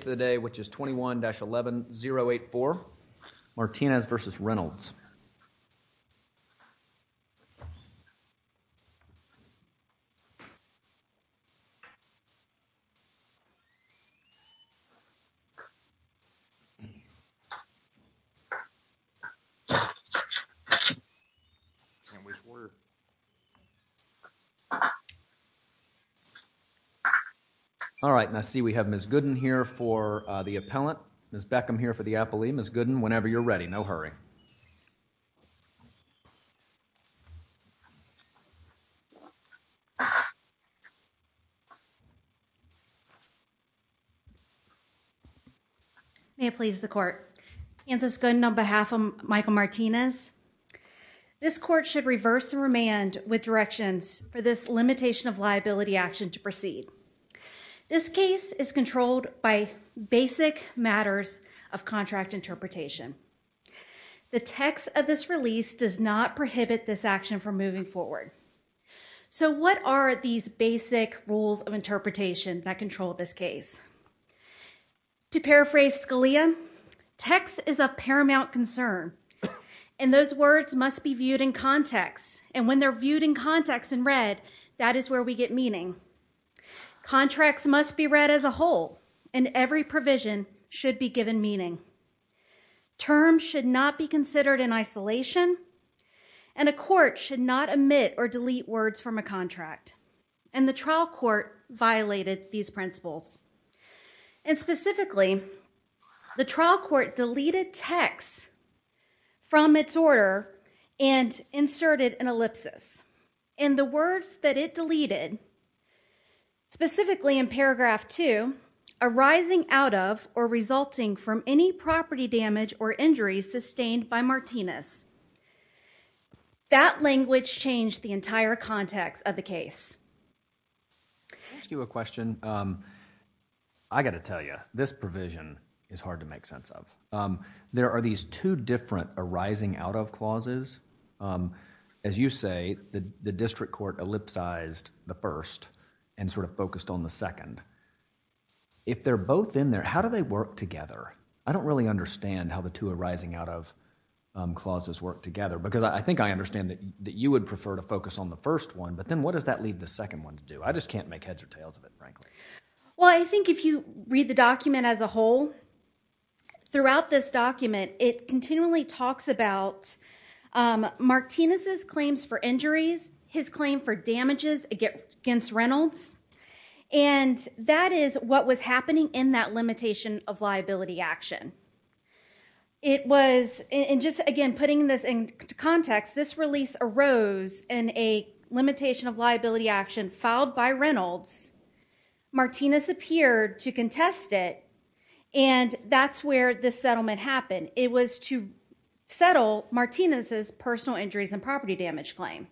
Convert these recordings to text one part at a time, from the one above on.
of the day which is 21-11-084 Martinez versus Reynolds all right and I see we have Ms. Gooden here for the appellant, Ms. Beckham here for the appellee. Ms. Gooden whenever you're ready no hurry. May it please the court. Kansas Gooden on behalf of Michael Martinez. This court should reverse and remand with directions for this limitation of liability action to proceed. This case is controlled by basic matters of contract interpretation. The text of this release does not prohibit this action from moving forward. So what are these basic rules of interpretation that control this case? To paraphrase Scalia text is a paramount concern and those words must be viewed in context and when they're viewed in context and read that is where we get meaning. Contracts must be read as a whole and every provision should be given meaning. Terms should not be considered in isolation and a court should not omit or delete words from a contract and the trial court violated these principles and specifically the trial court deleted text from its order and inserted an ellipsis in the words that it deleted specifically in paragraph 2 arising out of or resulting from any property damage or injuries sustained by Martinez. That language changed the entire context of the case. I'll ask you a question. I got to tell you this provision is hard to make sense of. There are these two different arising out of clauses. As you say the district court ellipsized the first and sort of focused on the second. If they're both in there how do they work together? I don't really understand how the two arising out of clauses work together because I think I understand that you would prefer to focus on the first one but then what does that leave the second one to do? I just can't make heads or tails of it frankly. Well I think if you read the document as a whole throughout this document it continually talks about Martinez's claims for injuries, his claim for damages against Reynolds and that is what was happening in that limitation of liability action. It was and just again putting this in context this release arose in a limitation of liability action filed by Reynolds. Martinez disappeared to contest it and that's where this settlement happened. It was to settle Martinez's personal injuries and property damage claim.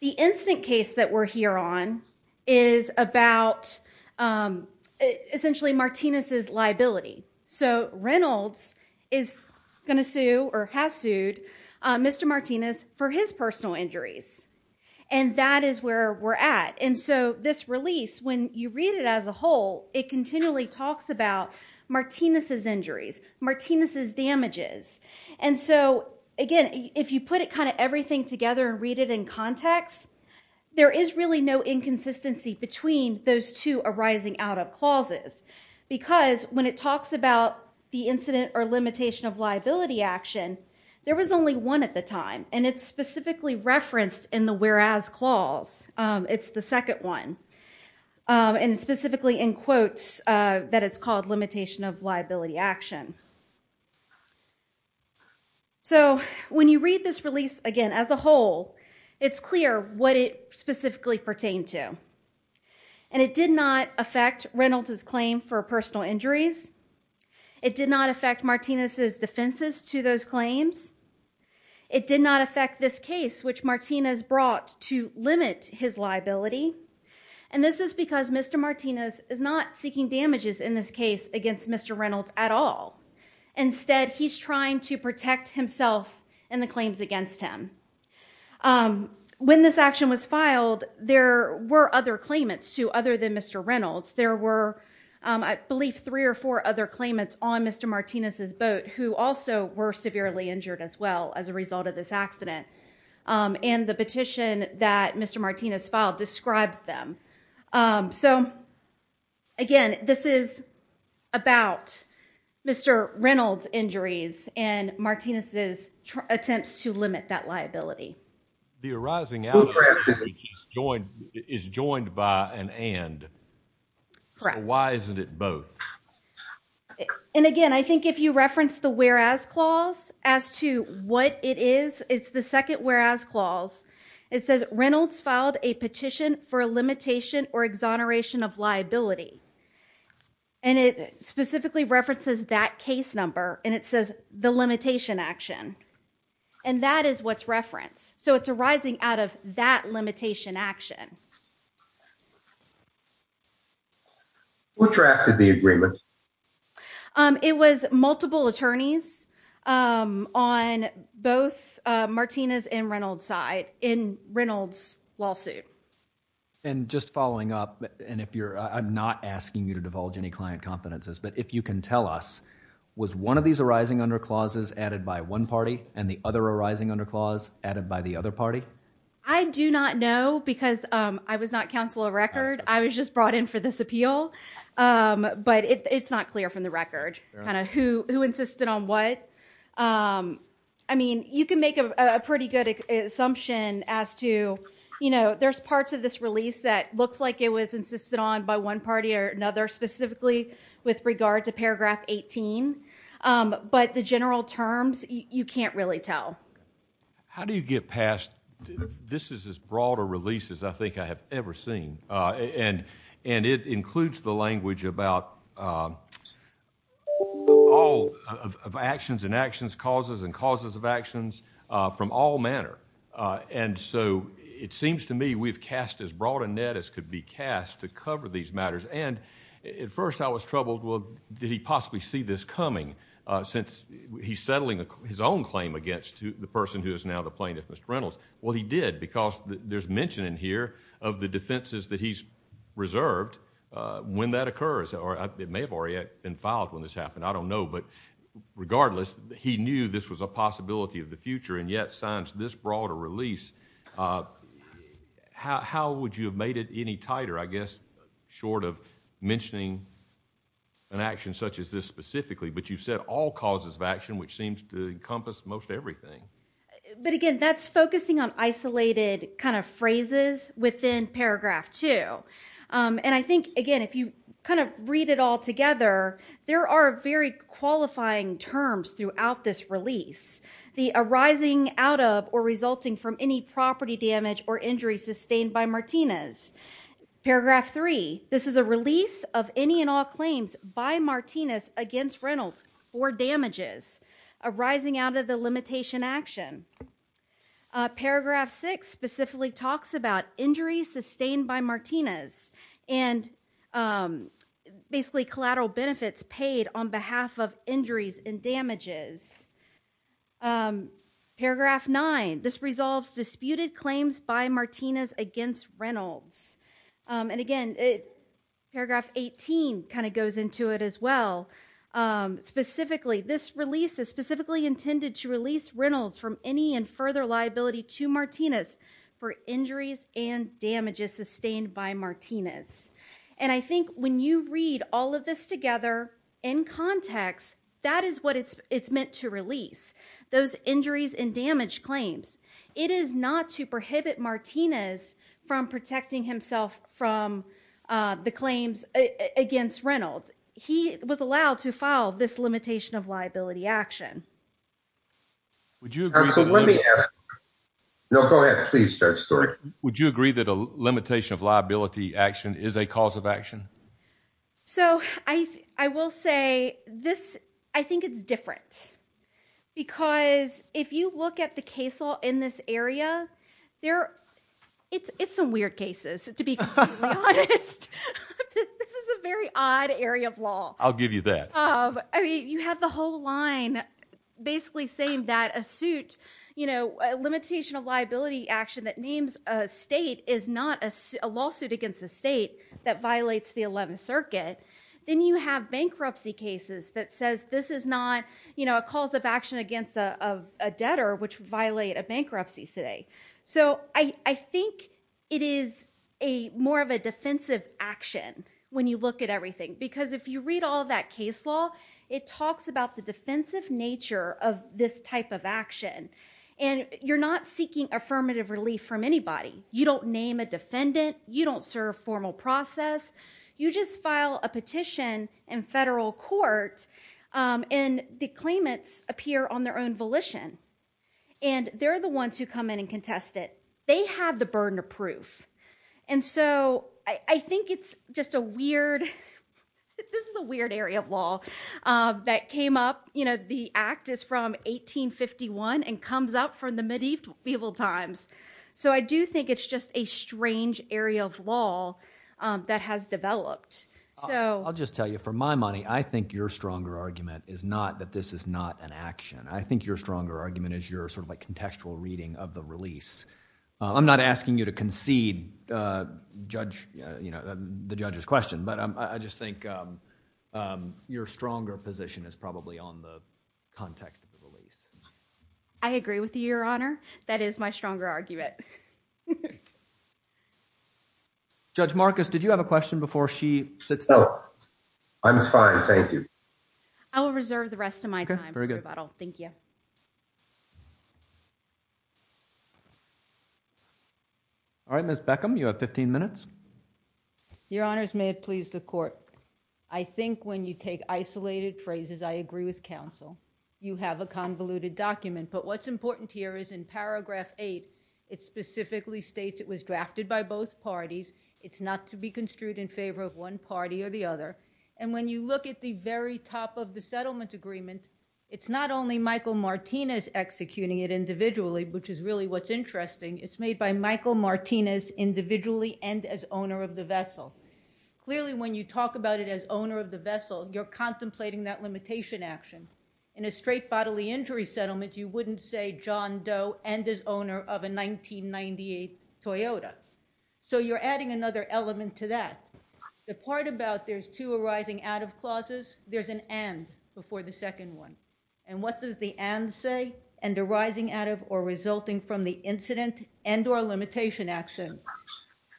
The instant case that we're here on is about essentially Martinez's liability. So Reynolds is gonna sue or has sued Mr. Martinez for his personal injuries and that is where we're at and so this release when you read it as a whole it continually talks about Martinez's injuries, Martinez's damages and so again if you put it kind of everything together and read it in context there is really no inconsistency between those two arising out of clauses because when it talks about the incident or limitation of liability action there was only one at the time and it's specifically referenced in the whereas clause. It's the second one and specifically in quotes that it's called limitation of liability action. So when you read this release again as a whole it's clear what it specifically pertained to and it did not affect Reynolds's claim for personal injuries. It did not affect Martinez's defenses to those claims. It did not affect this case which Martinez brought to limit his liability and this is because Mr. Martinez is not seeking damages in this case against Mr. Reynolds at all. Instead he's trying to protect himself and the claims against him. When this action was filed there were other claimants to other than Mr. Reynolds. There were I believe three or four other claimants on Mr. Martinez's boat who also were severely injured as well as a result of this accident and the petition that Mr. Martinez filed describes them. So again this is about Mr. Reynolds injuries and Martinez's attempts to limit that liability. The arising outage is joined by an and. Why isn't it both? And again I think if you reference the whereas clause as to what it is it's the second whereas clause. It says Reynolds filed a petition for a limitation or exoneration of liability and it specifically references that case number and it says the limitation action and that is what's referenced. So it's arising out of that limitation action. Who drafted the agreement? It was multiple attorneys on both Martinez and Reynolds side in Reynolds lawsuit. And just following up and if you're I'm not asking you to divulge any client confidences but if you can tell us was one of these arising under clauses added by one party and the other arising under clause added by the other party? I do not know because I was not counsel of record. I was just brought in for this appeal but it's not clear from the record kind of who who insisted on what. I mean you can make a pretty good assumption as to you know there's parts of this release that looks like it was insisted on by one party or another specifically with regard to paragraph 18 but the general terms you can't really tell. How do you get past this is as broad a release as I think I have ever seen and and it includes the language about all of actions and actions causes and causes of actions from all manner. And so it seems to me we've cast as broad a net as could be cast to cover these matters and at first I was troubled well did he possibly see this coming since he's settling his own claim against the person who is now the plaintiff Mr. Reynolds. Well he did because there's mention in here of the defenses that he's reserved when that occurs or it may have already been filed when this happened. I don't know but regardless he knew this was a possibility of the future and yet signs this broader release. How would you have made it any tighter I guess short of mentioning an action such as this specifically but you've said all causes of action which seems to encompass most everything. But again that's focusing on isolated kind of phrases within paragraph two and I think again if you kind of read it all together there are very qualifying terms throughout this release. The arising out of or resulting from any property damage or injury sustained by Martinez. Paragraph three this is a release of any and all claims by Martinez against Reynolds for damages arising out of the limitation action. Paragraph six specifically talks about injuries sustained by Martinez and basically collateral benefits paid on behalf of damages. Paragraph nine this resolves disputed claims by Martinez against Reynolds and again paragraph 18 kind of goes into it as well. Specifically this release is specifically intended to release Reynolds from any and further liability to Martinez for injuries and damages sustained by Martinez. And I think when you read all of this together in context that is what it's it's meant to release those injuries and damage claims. It is not to prohibit Martinez from protecting himself from the claims against Reynolds. He was allowed to file this limitation of liability action. Would you agree that a limitation of liability action is a cause of action? So I will say this I think it's different because if you look at the case law in this area there it's it's some weird cases to be honest. This is a very odd area of law. I'll give you that. I mean you have the whole line basically saying that a suit you know a limitation of liability action that names a state is not a lawsuit against a state that violates the 11th circuit. Then you have bankruptcy cases that says this is not you know a cause of action against a debtor which violate a bankruptcy today. So I think it is a more of a defensive action when you look at everything because if you read all that case law it talks about the defensive nature of this type of action and you're not seeking affirmative relief from anybody. You don't name a defendant. You don't serve formal process. You just file a petition in federal court and the claimants appear on their own volition and they're the ones who come in and contest it. They have the burden of proof. And so I think it's just a weird this is a weird area of law that came up you know the act is from 1851 and comes up from the medieval times. So I do think it's just a strange area of law that has developed. So I'll just tell you for my money I think your stronger argument is not that this is not an action. I think your stronger argument is your sort of like contextual reading of the release. I'm not asking you to concede judge you know the judge's question but I just think your stronger position is probably on the context of the release. I agree with you your honor. That is my stronger argument. Judge Marcus did you have a question before she sits down? I'm fine thank you. I will reserve the rest of my time for rebuttal. Thank you. All right Ms. Beckham you have 15 minutes. Your honors may it please the court. I think when you take isolated phrases I agree with counsel. You have a convoluted document but what's important here is in paragraph 8 it specifically states it was drafted by both parties. It's not to be construed in favor of one party or the other and when you look at the very top of the settlement agreement it's not only Michael Martinez executing it individually which is really what's interesting. It's made by Michael Martinez individually and as owner of the vessel. Clearly when you talk about it as owner of the vessel you're contemplating that limitation action. In a straight bodily injury settlement you wouldn't say John Doe and as owner of a 1998 Toyota. So you're adding another element to that. The part about there's two arising out of clauses there's an and before the second one and what does the and say and arising out of or resulting from the incident and or limitation action.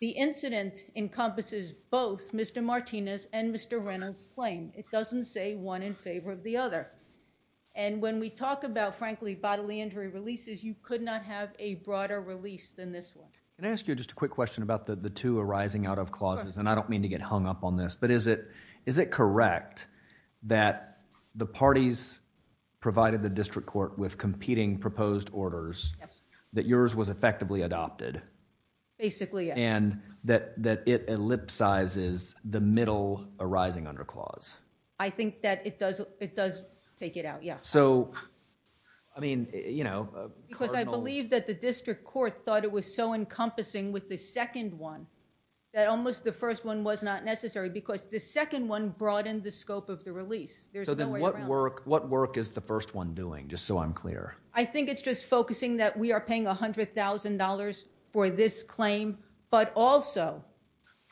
The incident encompasses both Mr. Martinez and Mr. Reynolds claim. It doesn't say one in favor of the other and when we talk about frankly bodily injury releases you could not have a broader release than this one. Can I ask you just a quick question about the the two arising out of clauses and I don't mean to get hung up on this but is it correct that the parties provided the district court with competing proposed orders that yours was effectively adopted. Basically yes. And that that it ellipsizes the middle arising under clause. I think that it does it does take it out yeah. So I mean you know. Because I believe that the district court thought it was so encompassing with the second one that almost the first one was not necessary because the second one broadened the scope of the release. So then what work what work is the first one doing just so I'm clear. I think it's just focusing that we are paying a hundred thousand dollars for this claim but also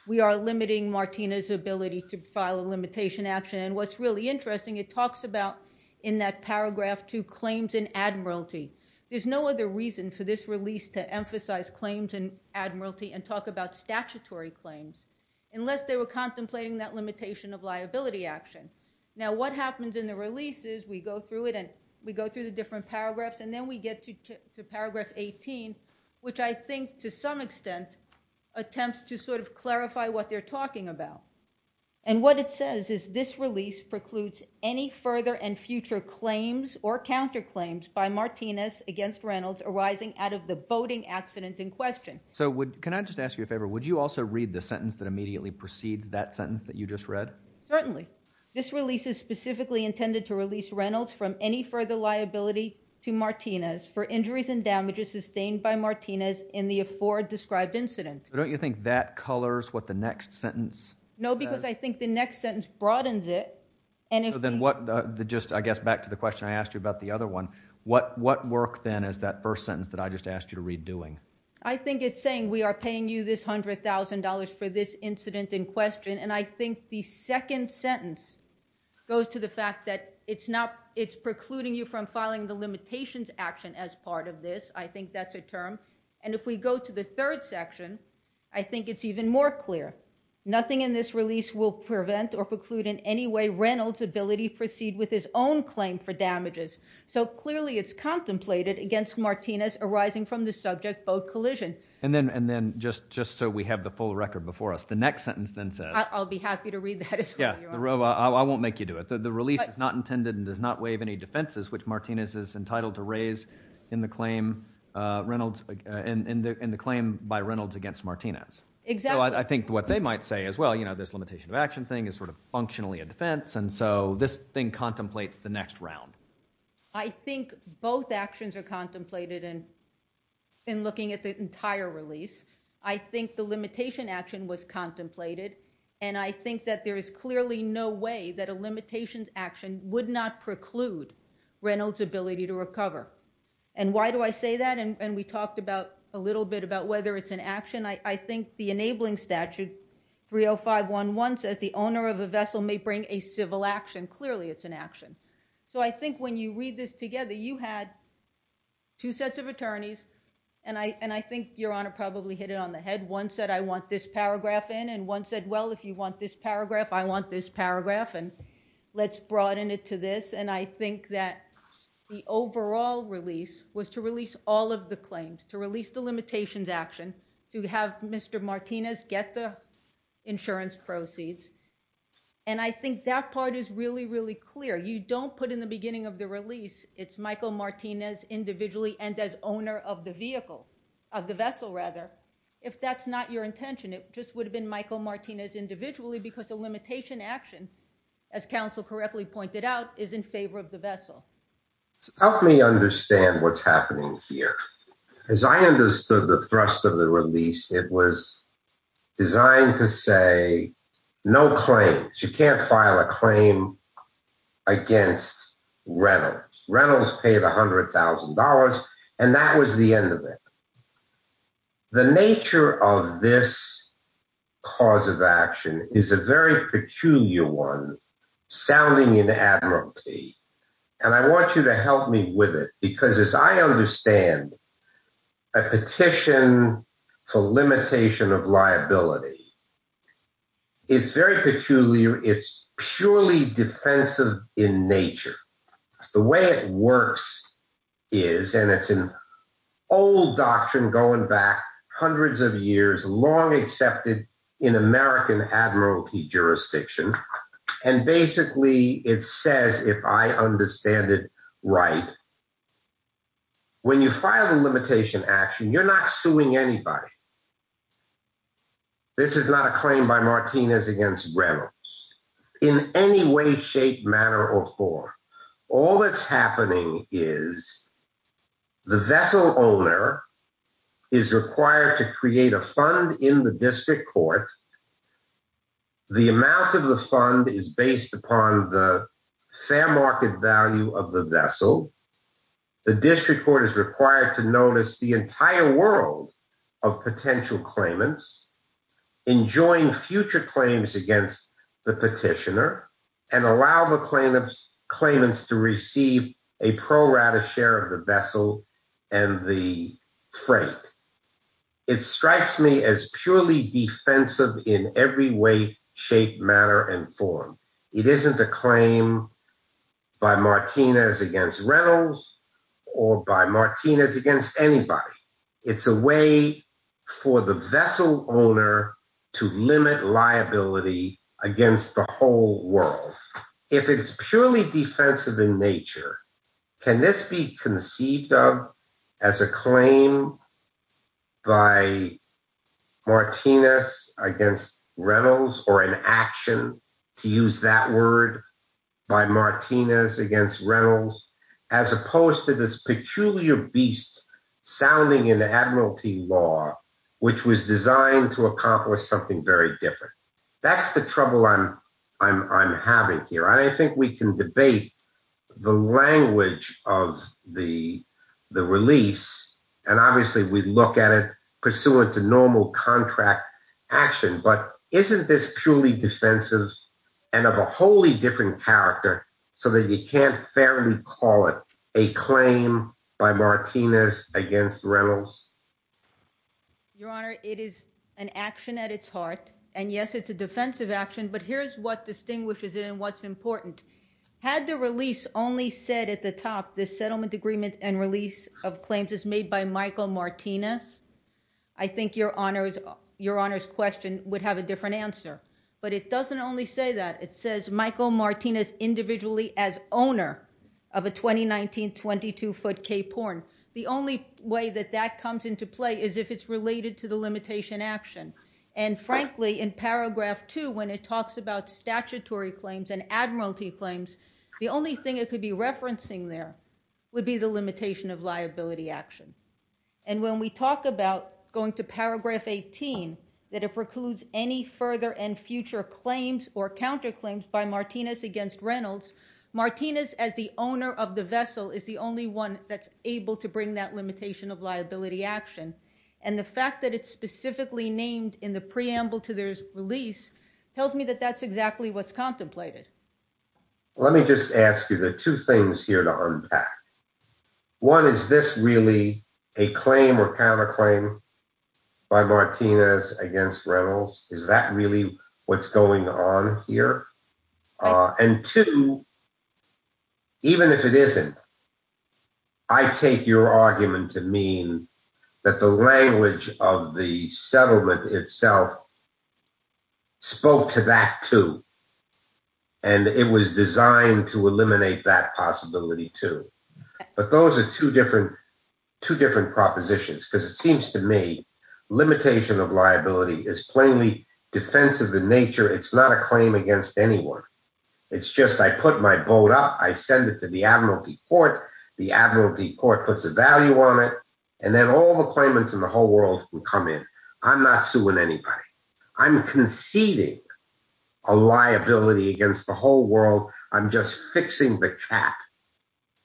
we are limiting Martina's ability to file a limitation action and what's really interesting it talks about in that paragraph two claims in admiralty. There's no other reason for this release to emphasize claims in admiralty and talk about statutory claims unless they were contemplating that limitation of liability action. Now what happens in the release is we go through it and we go through the different paragraphs and then we get to to paragraph 18 which I think to some extent attempts to sort of clarify what they're talking about and what it says is this release precludes any further and future claims or counter claims by Martinez against Reynolds arising out of the voting accident in question. So would can I just ask you a favor would you also read the sentence that immediately precedes that sentence that you just read? Certainly this release is specifically intended to release Reynolds from any further liability to Martinez for injuries and damages sustained by Martinez in the afore described incident. Don't you think that colors what the next sentence? No because I think the next sentence broadens it. And then what the just I guess back to the question I asked you about the other one what what work then is that first sentence that I just asked you to read doing? I think it's saying we are paying you this hundred thousand dollars for this incident in question and I think the second sentence goes to the fact that it's not it's precluding you from filing the limitations action as part of this. I think that's a term and if we go to the third section I think it's even more clear nothing in this release will prevent or preclude in any way Reynolds ability proceed with his own claim for damages. So clearly it's contemplated against Martinez arising from the subject boat collision. And then and then just just so we have the full record before us the next sentence then says. I'll be happy to read that. Yeah I won't make you do it. The release is not intended and does not waive any defenses which Martinez is entitled to raise in the claim Reynolds in the in the claim by Reynolds against Martinez. Exactly. I think what they might say as well you know this limitation of action thing is sort of functionally a defense and so this thing contemplates the next round. I think both actions are contemplated in in looking at the entire release. I think the limitation action was contemplated and I think that there is clearly no way that a limitations action would not preclude Reynolds ability to recover. And why do I say that? And we talked about a little bit about whether it's an action. I think the enabling statute 30511 says the owner of a vessel may bring a civil action. Clearly it's an action. So I think when you read this together you had two sets of attorneys and I and I think your honor probably hit it on the head. One said I want this paragraph in and one said well if you want this paragraph I want this paragraph and let's broaden it to this. And I think that the overall release was to release all of the claims to release the limitations action to have Mr. Martinez get the insurance proceeds. And I think that part is really really clear. You don't put in the beginning of the release it's Michael Martinez individually and as owner of the vehicle of the vessel rather. If that's not your intention it just would have been Michael Martinez individually because the limitation action as counsel correctly pointed out is in favor of the vessel. Help me understand what's happening here. As I understood the thrust of the release it was designed to say no claims. You can't file a claim against Reynolds. Reynolds paid a hundred thousand dollars and that was the end of it. The nature of this cause of action is a very peculiar one sounding in Admiralty and I want you to help me with it because as I understand a petition for limitation of liability it's very peculiar. It's purely defensive in nature. The way it works is and it's an old doctrine going back hundreds of years long accepted in American Admiralty jurisdiction and basically it says if I understand it right when you file the limitation action you're not suing anybody. This is not a claim by Martinez against Reynolds in any way shape manner or form. All that's going on here is that the district court is required to notice the entire world of potential claimants enjoying future claims against the petitioner and allow the claimants to receive a pro rata share of the vessel and the freight. It strikes me as purely defensive in every way shape manner and form. It isn't a claim by Martinez against Reynolds or by Martinez against anybody. It's a way for the vessel owner to limit liability against the whole world. If it's purely defensive in nature can this be conceived of as a claim by Martinez against Reynolds or an action to use that word by Martinez against Reynolds as opposed to this peculiar beast sounding in Admiralty law which was designed to accomplish something very different. That's the trouble I'm having here and I think we can debate the language of the the release and obviously we look at it pursuant to normal contract action but isn't this purely defensive and of a wholly different character so that you can't fairly call it a claim by Martinez against Reynolds. Your honor it is an action at its heart and yes it's a defensive action but here's what distinguishes it and what's important. Had the release only said at the top the settlement agreement and release of claims is made by Michael Martinez I think your honor's question would have a different answer but it doesn't only say that it says Michael Martinez individually as owner of a 2019 22-foot k-porn. The only way that that comes into play is if it's related to the limitation action and frankly in paragraph 2 when it talks about statutory claims and Admiralty claims the only thing it could be referencing there would be the limitation of liability action and when we talk about going to paragraph 18 that it precludes any further and future claims or counterclaims by Martinez against Reynolds, Martinez as the owner of the vessel is the only one that's able to bring that limitation of liability action and the fact that it's specifically named in the preamble to their release tells me that that's exactly what's contemplated. Let me just ask you the two things here to unpack. One is this really a claim or counterclaim by Martinez against Reynolds? Is that really what's going on here? And two even if it isn't I take your argument to mean that the language of the settlement itself spoke to that too and it was designed to eliminate that possibility too but those are two different two different propositions because it seems to me limitation of liability is plainly defensive in nature it's not a claim against anyone it's just I put my boat up I send it to the Admiralty court the Admiralty court puts a value on it and then all the claimants in the whole world will come in. I'm not suing anybody I'm conceding a liability against the whole world I'm just fixing the cap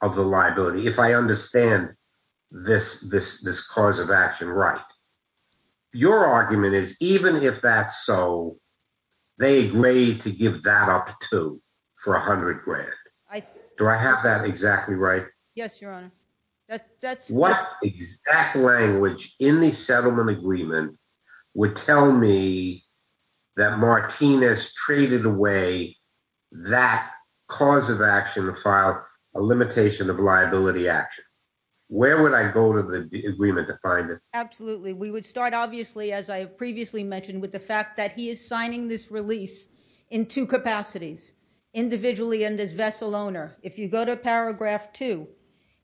of the liability if I Your argument is even if that's so they agreed to give that up too for a hundred grand. Do I have that exactly right? Yes your honor. What exact language in the settlement agreement would tell me that Martinez traded away that cause of action to file a limitation of liability action? Where would I go to the agreement to find it? Absolutely we would start obviously as I previously mentioned with the fact that he is signing this release in two capacities individually and as vessel owner. If you go to paragraph two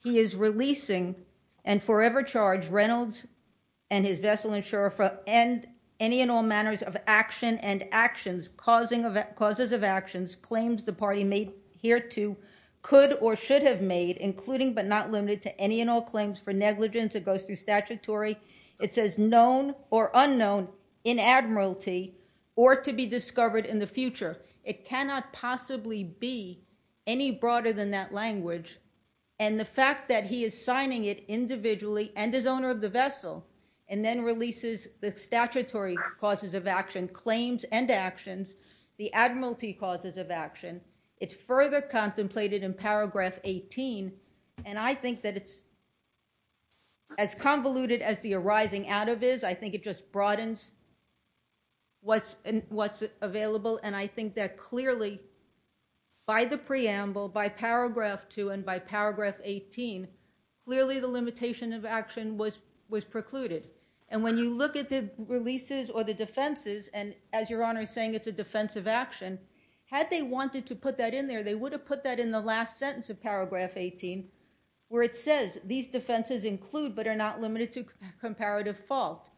he is releasing and forever charge Reynolds and his vessel insurer for any and all manners of action and actions causing of causes of actions claims the party made hereto could or should have made including but not limited to any and all claims for negligence it goes through statutory it says known or unknown in Admiralty or to be discovered in the future. It cannot possibly be any broader than that language and the fact that he is signing it individually and his owner of the vessel and then releases the statutory causes of action claims and actions the Admiralty causes of action it's further contemplated in paragraph 18 and I think that it's as convoluted as the arising out of is I think it just broadens what's and what's available and I think that clearly by the preamble by paragraph 2 and by paragraph 18 clearly the limitation of action was was precluded and when you look at the releases or the defenses and as your honor is saying it's a defensive action had they wanted to put that in there they would have put that in the last sentence of paragraph 18 where it says these defenses include but are not limited to comparative fault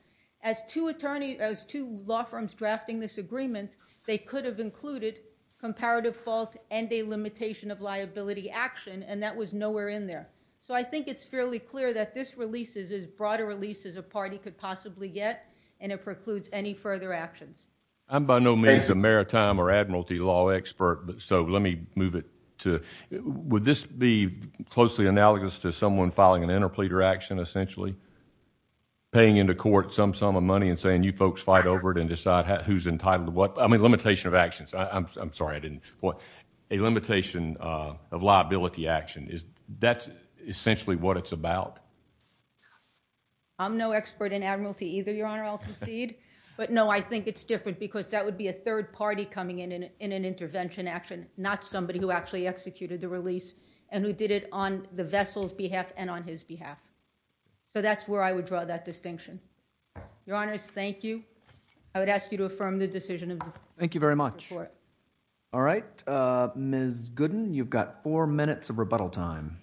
as two attorney as two law firms drafting this agreement they could have included comparative fault and a limitation of liability action and that was nowhere in there so I think it's fairly clear that this releases as broad a release as a party could possibly get and it precludes any further actions. I'm by no means a maritime or Admiralty law expert but so let me move it to would this be closely analogous to someone filing an interpleader action essentially paying into court some sum of money and saying you folks fight over it and decide who's entitled to what I mean limitation of actions I'm sorry I didn't point a limitation uh of liability action is that's essentially what it's about I'm no expert in Admiralty either your honor I'll concede but no I think it's different because that would be a third party coming in in an intervention action not somebody who actually executed the release and who did it on the vessel's behalf and on his behalf so that's where I would draw that distinction your honors thank you I would ask you to affirm the decision of the thank you very much all right uh Ms. Gooden you've got four minutes of rebuttal time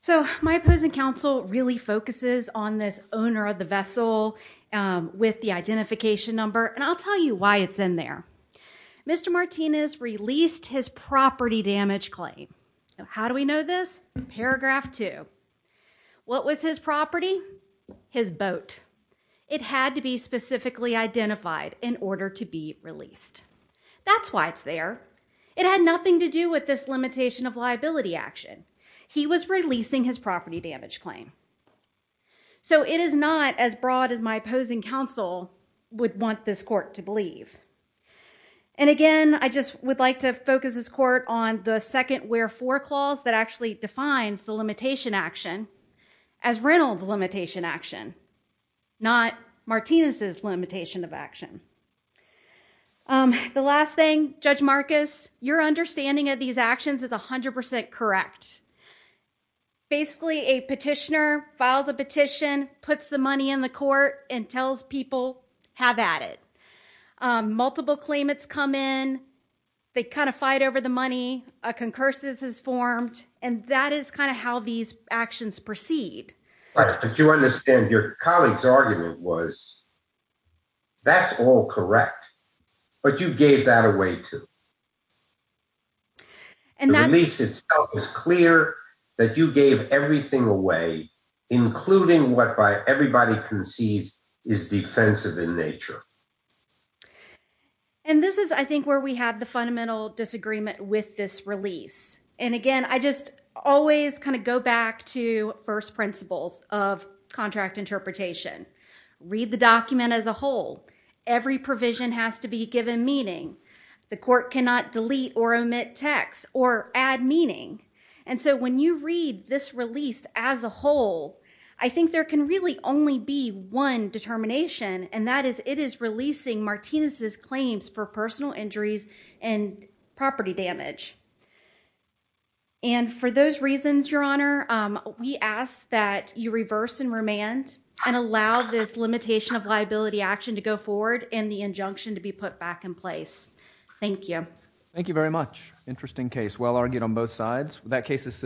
so my opposing counsel really focuses on this owner of the vessel um with the identification number and I'll tell you why it's in there Mr. Martinez released his property damage claim now how do we know this paragraph two what was his property his boat it had to be specifically identified in order to be released that's why it's there it had nothing to do with this limitation of liability action he was releasing his property damage claim so it is not as broad as my opposing counsel would want this court to believe and again I just would like to focus this court on the second where for clause that actually defines the limitation action as Reynolds limitation action not Martinez's limitation of action um the last thing Judge Marcus your correct basically a petitioner files a petition puts the money in the court and tells people have at it um multiple claimants come in they kind of fight over the money a concursus is formed and that is kind of how these actions proceed but you understand your colleague's argument was that's all correct but you gave that away too and that release itself is clear that you gave everything away including what by everybody concedes is defensive in nature and this is I think where we have the fundamental disagreement with this release and again I just always kind of go back to first principles of contract interpretation read the document as a whole every provision has to be given meaning the court cannot delete or omit text or add meaning and so when you read this release as a whole I think there can really only be one determination and that is it is releasing Martinez's claims for personal injuries and property damage and for those reasons your honor um we ask that you reverse and remand and allow this limitation of liability action to go forward and the injunction to be put back in place thank you thank you very much interesting case well argued on both sides that case is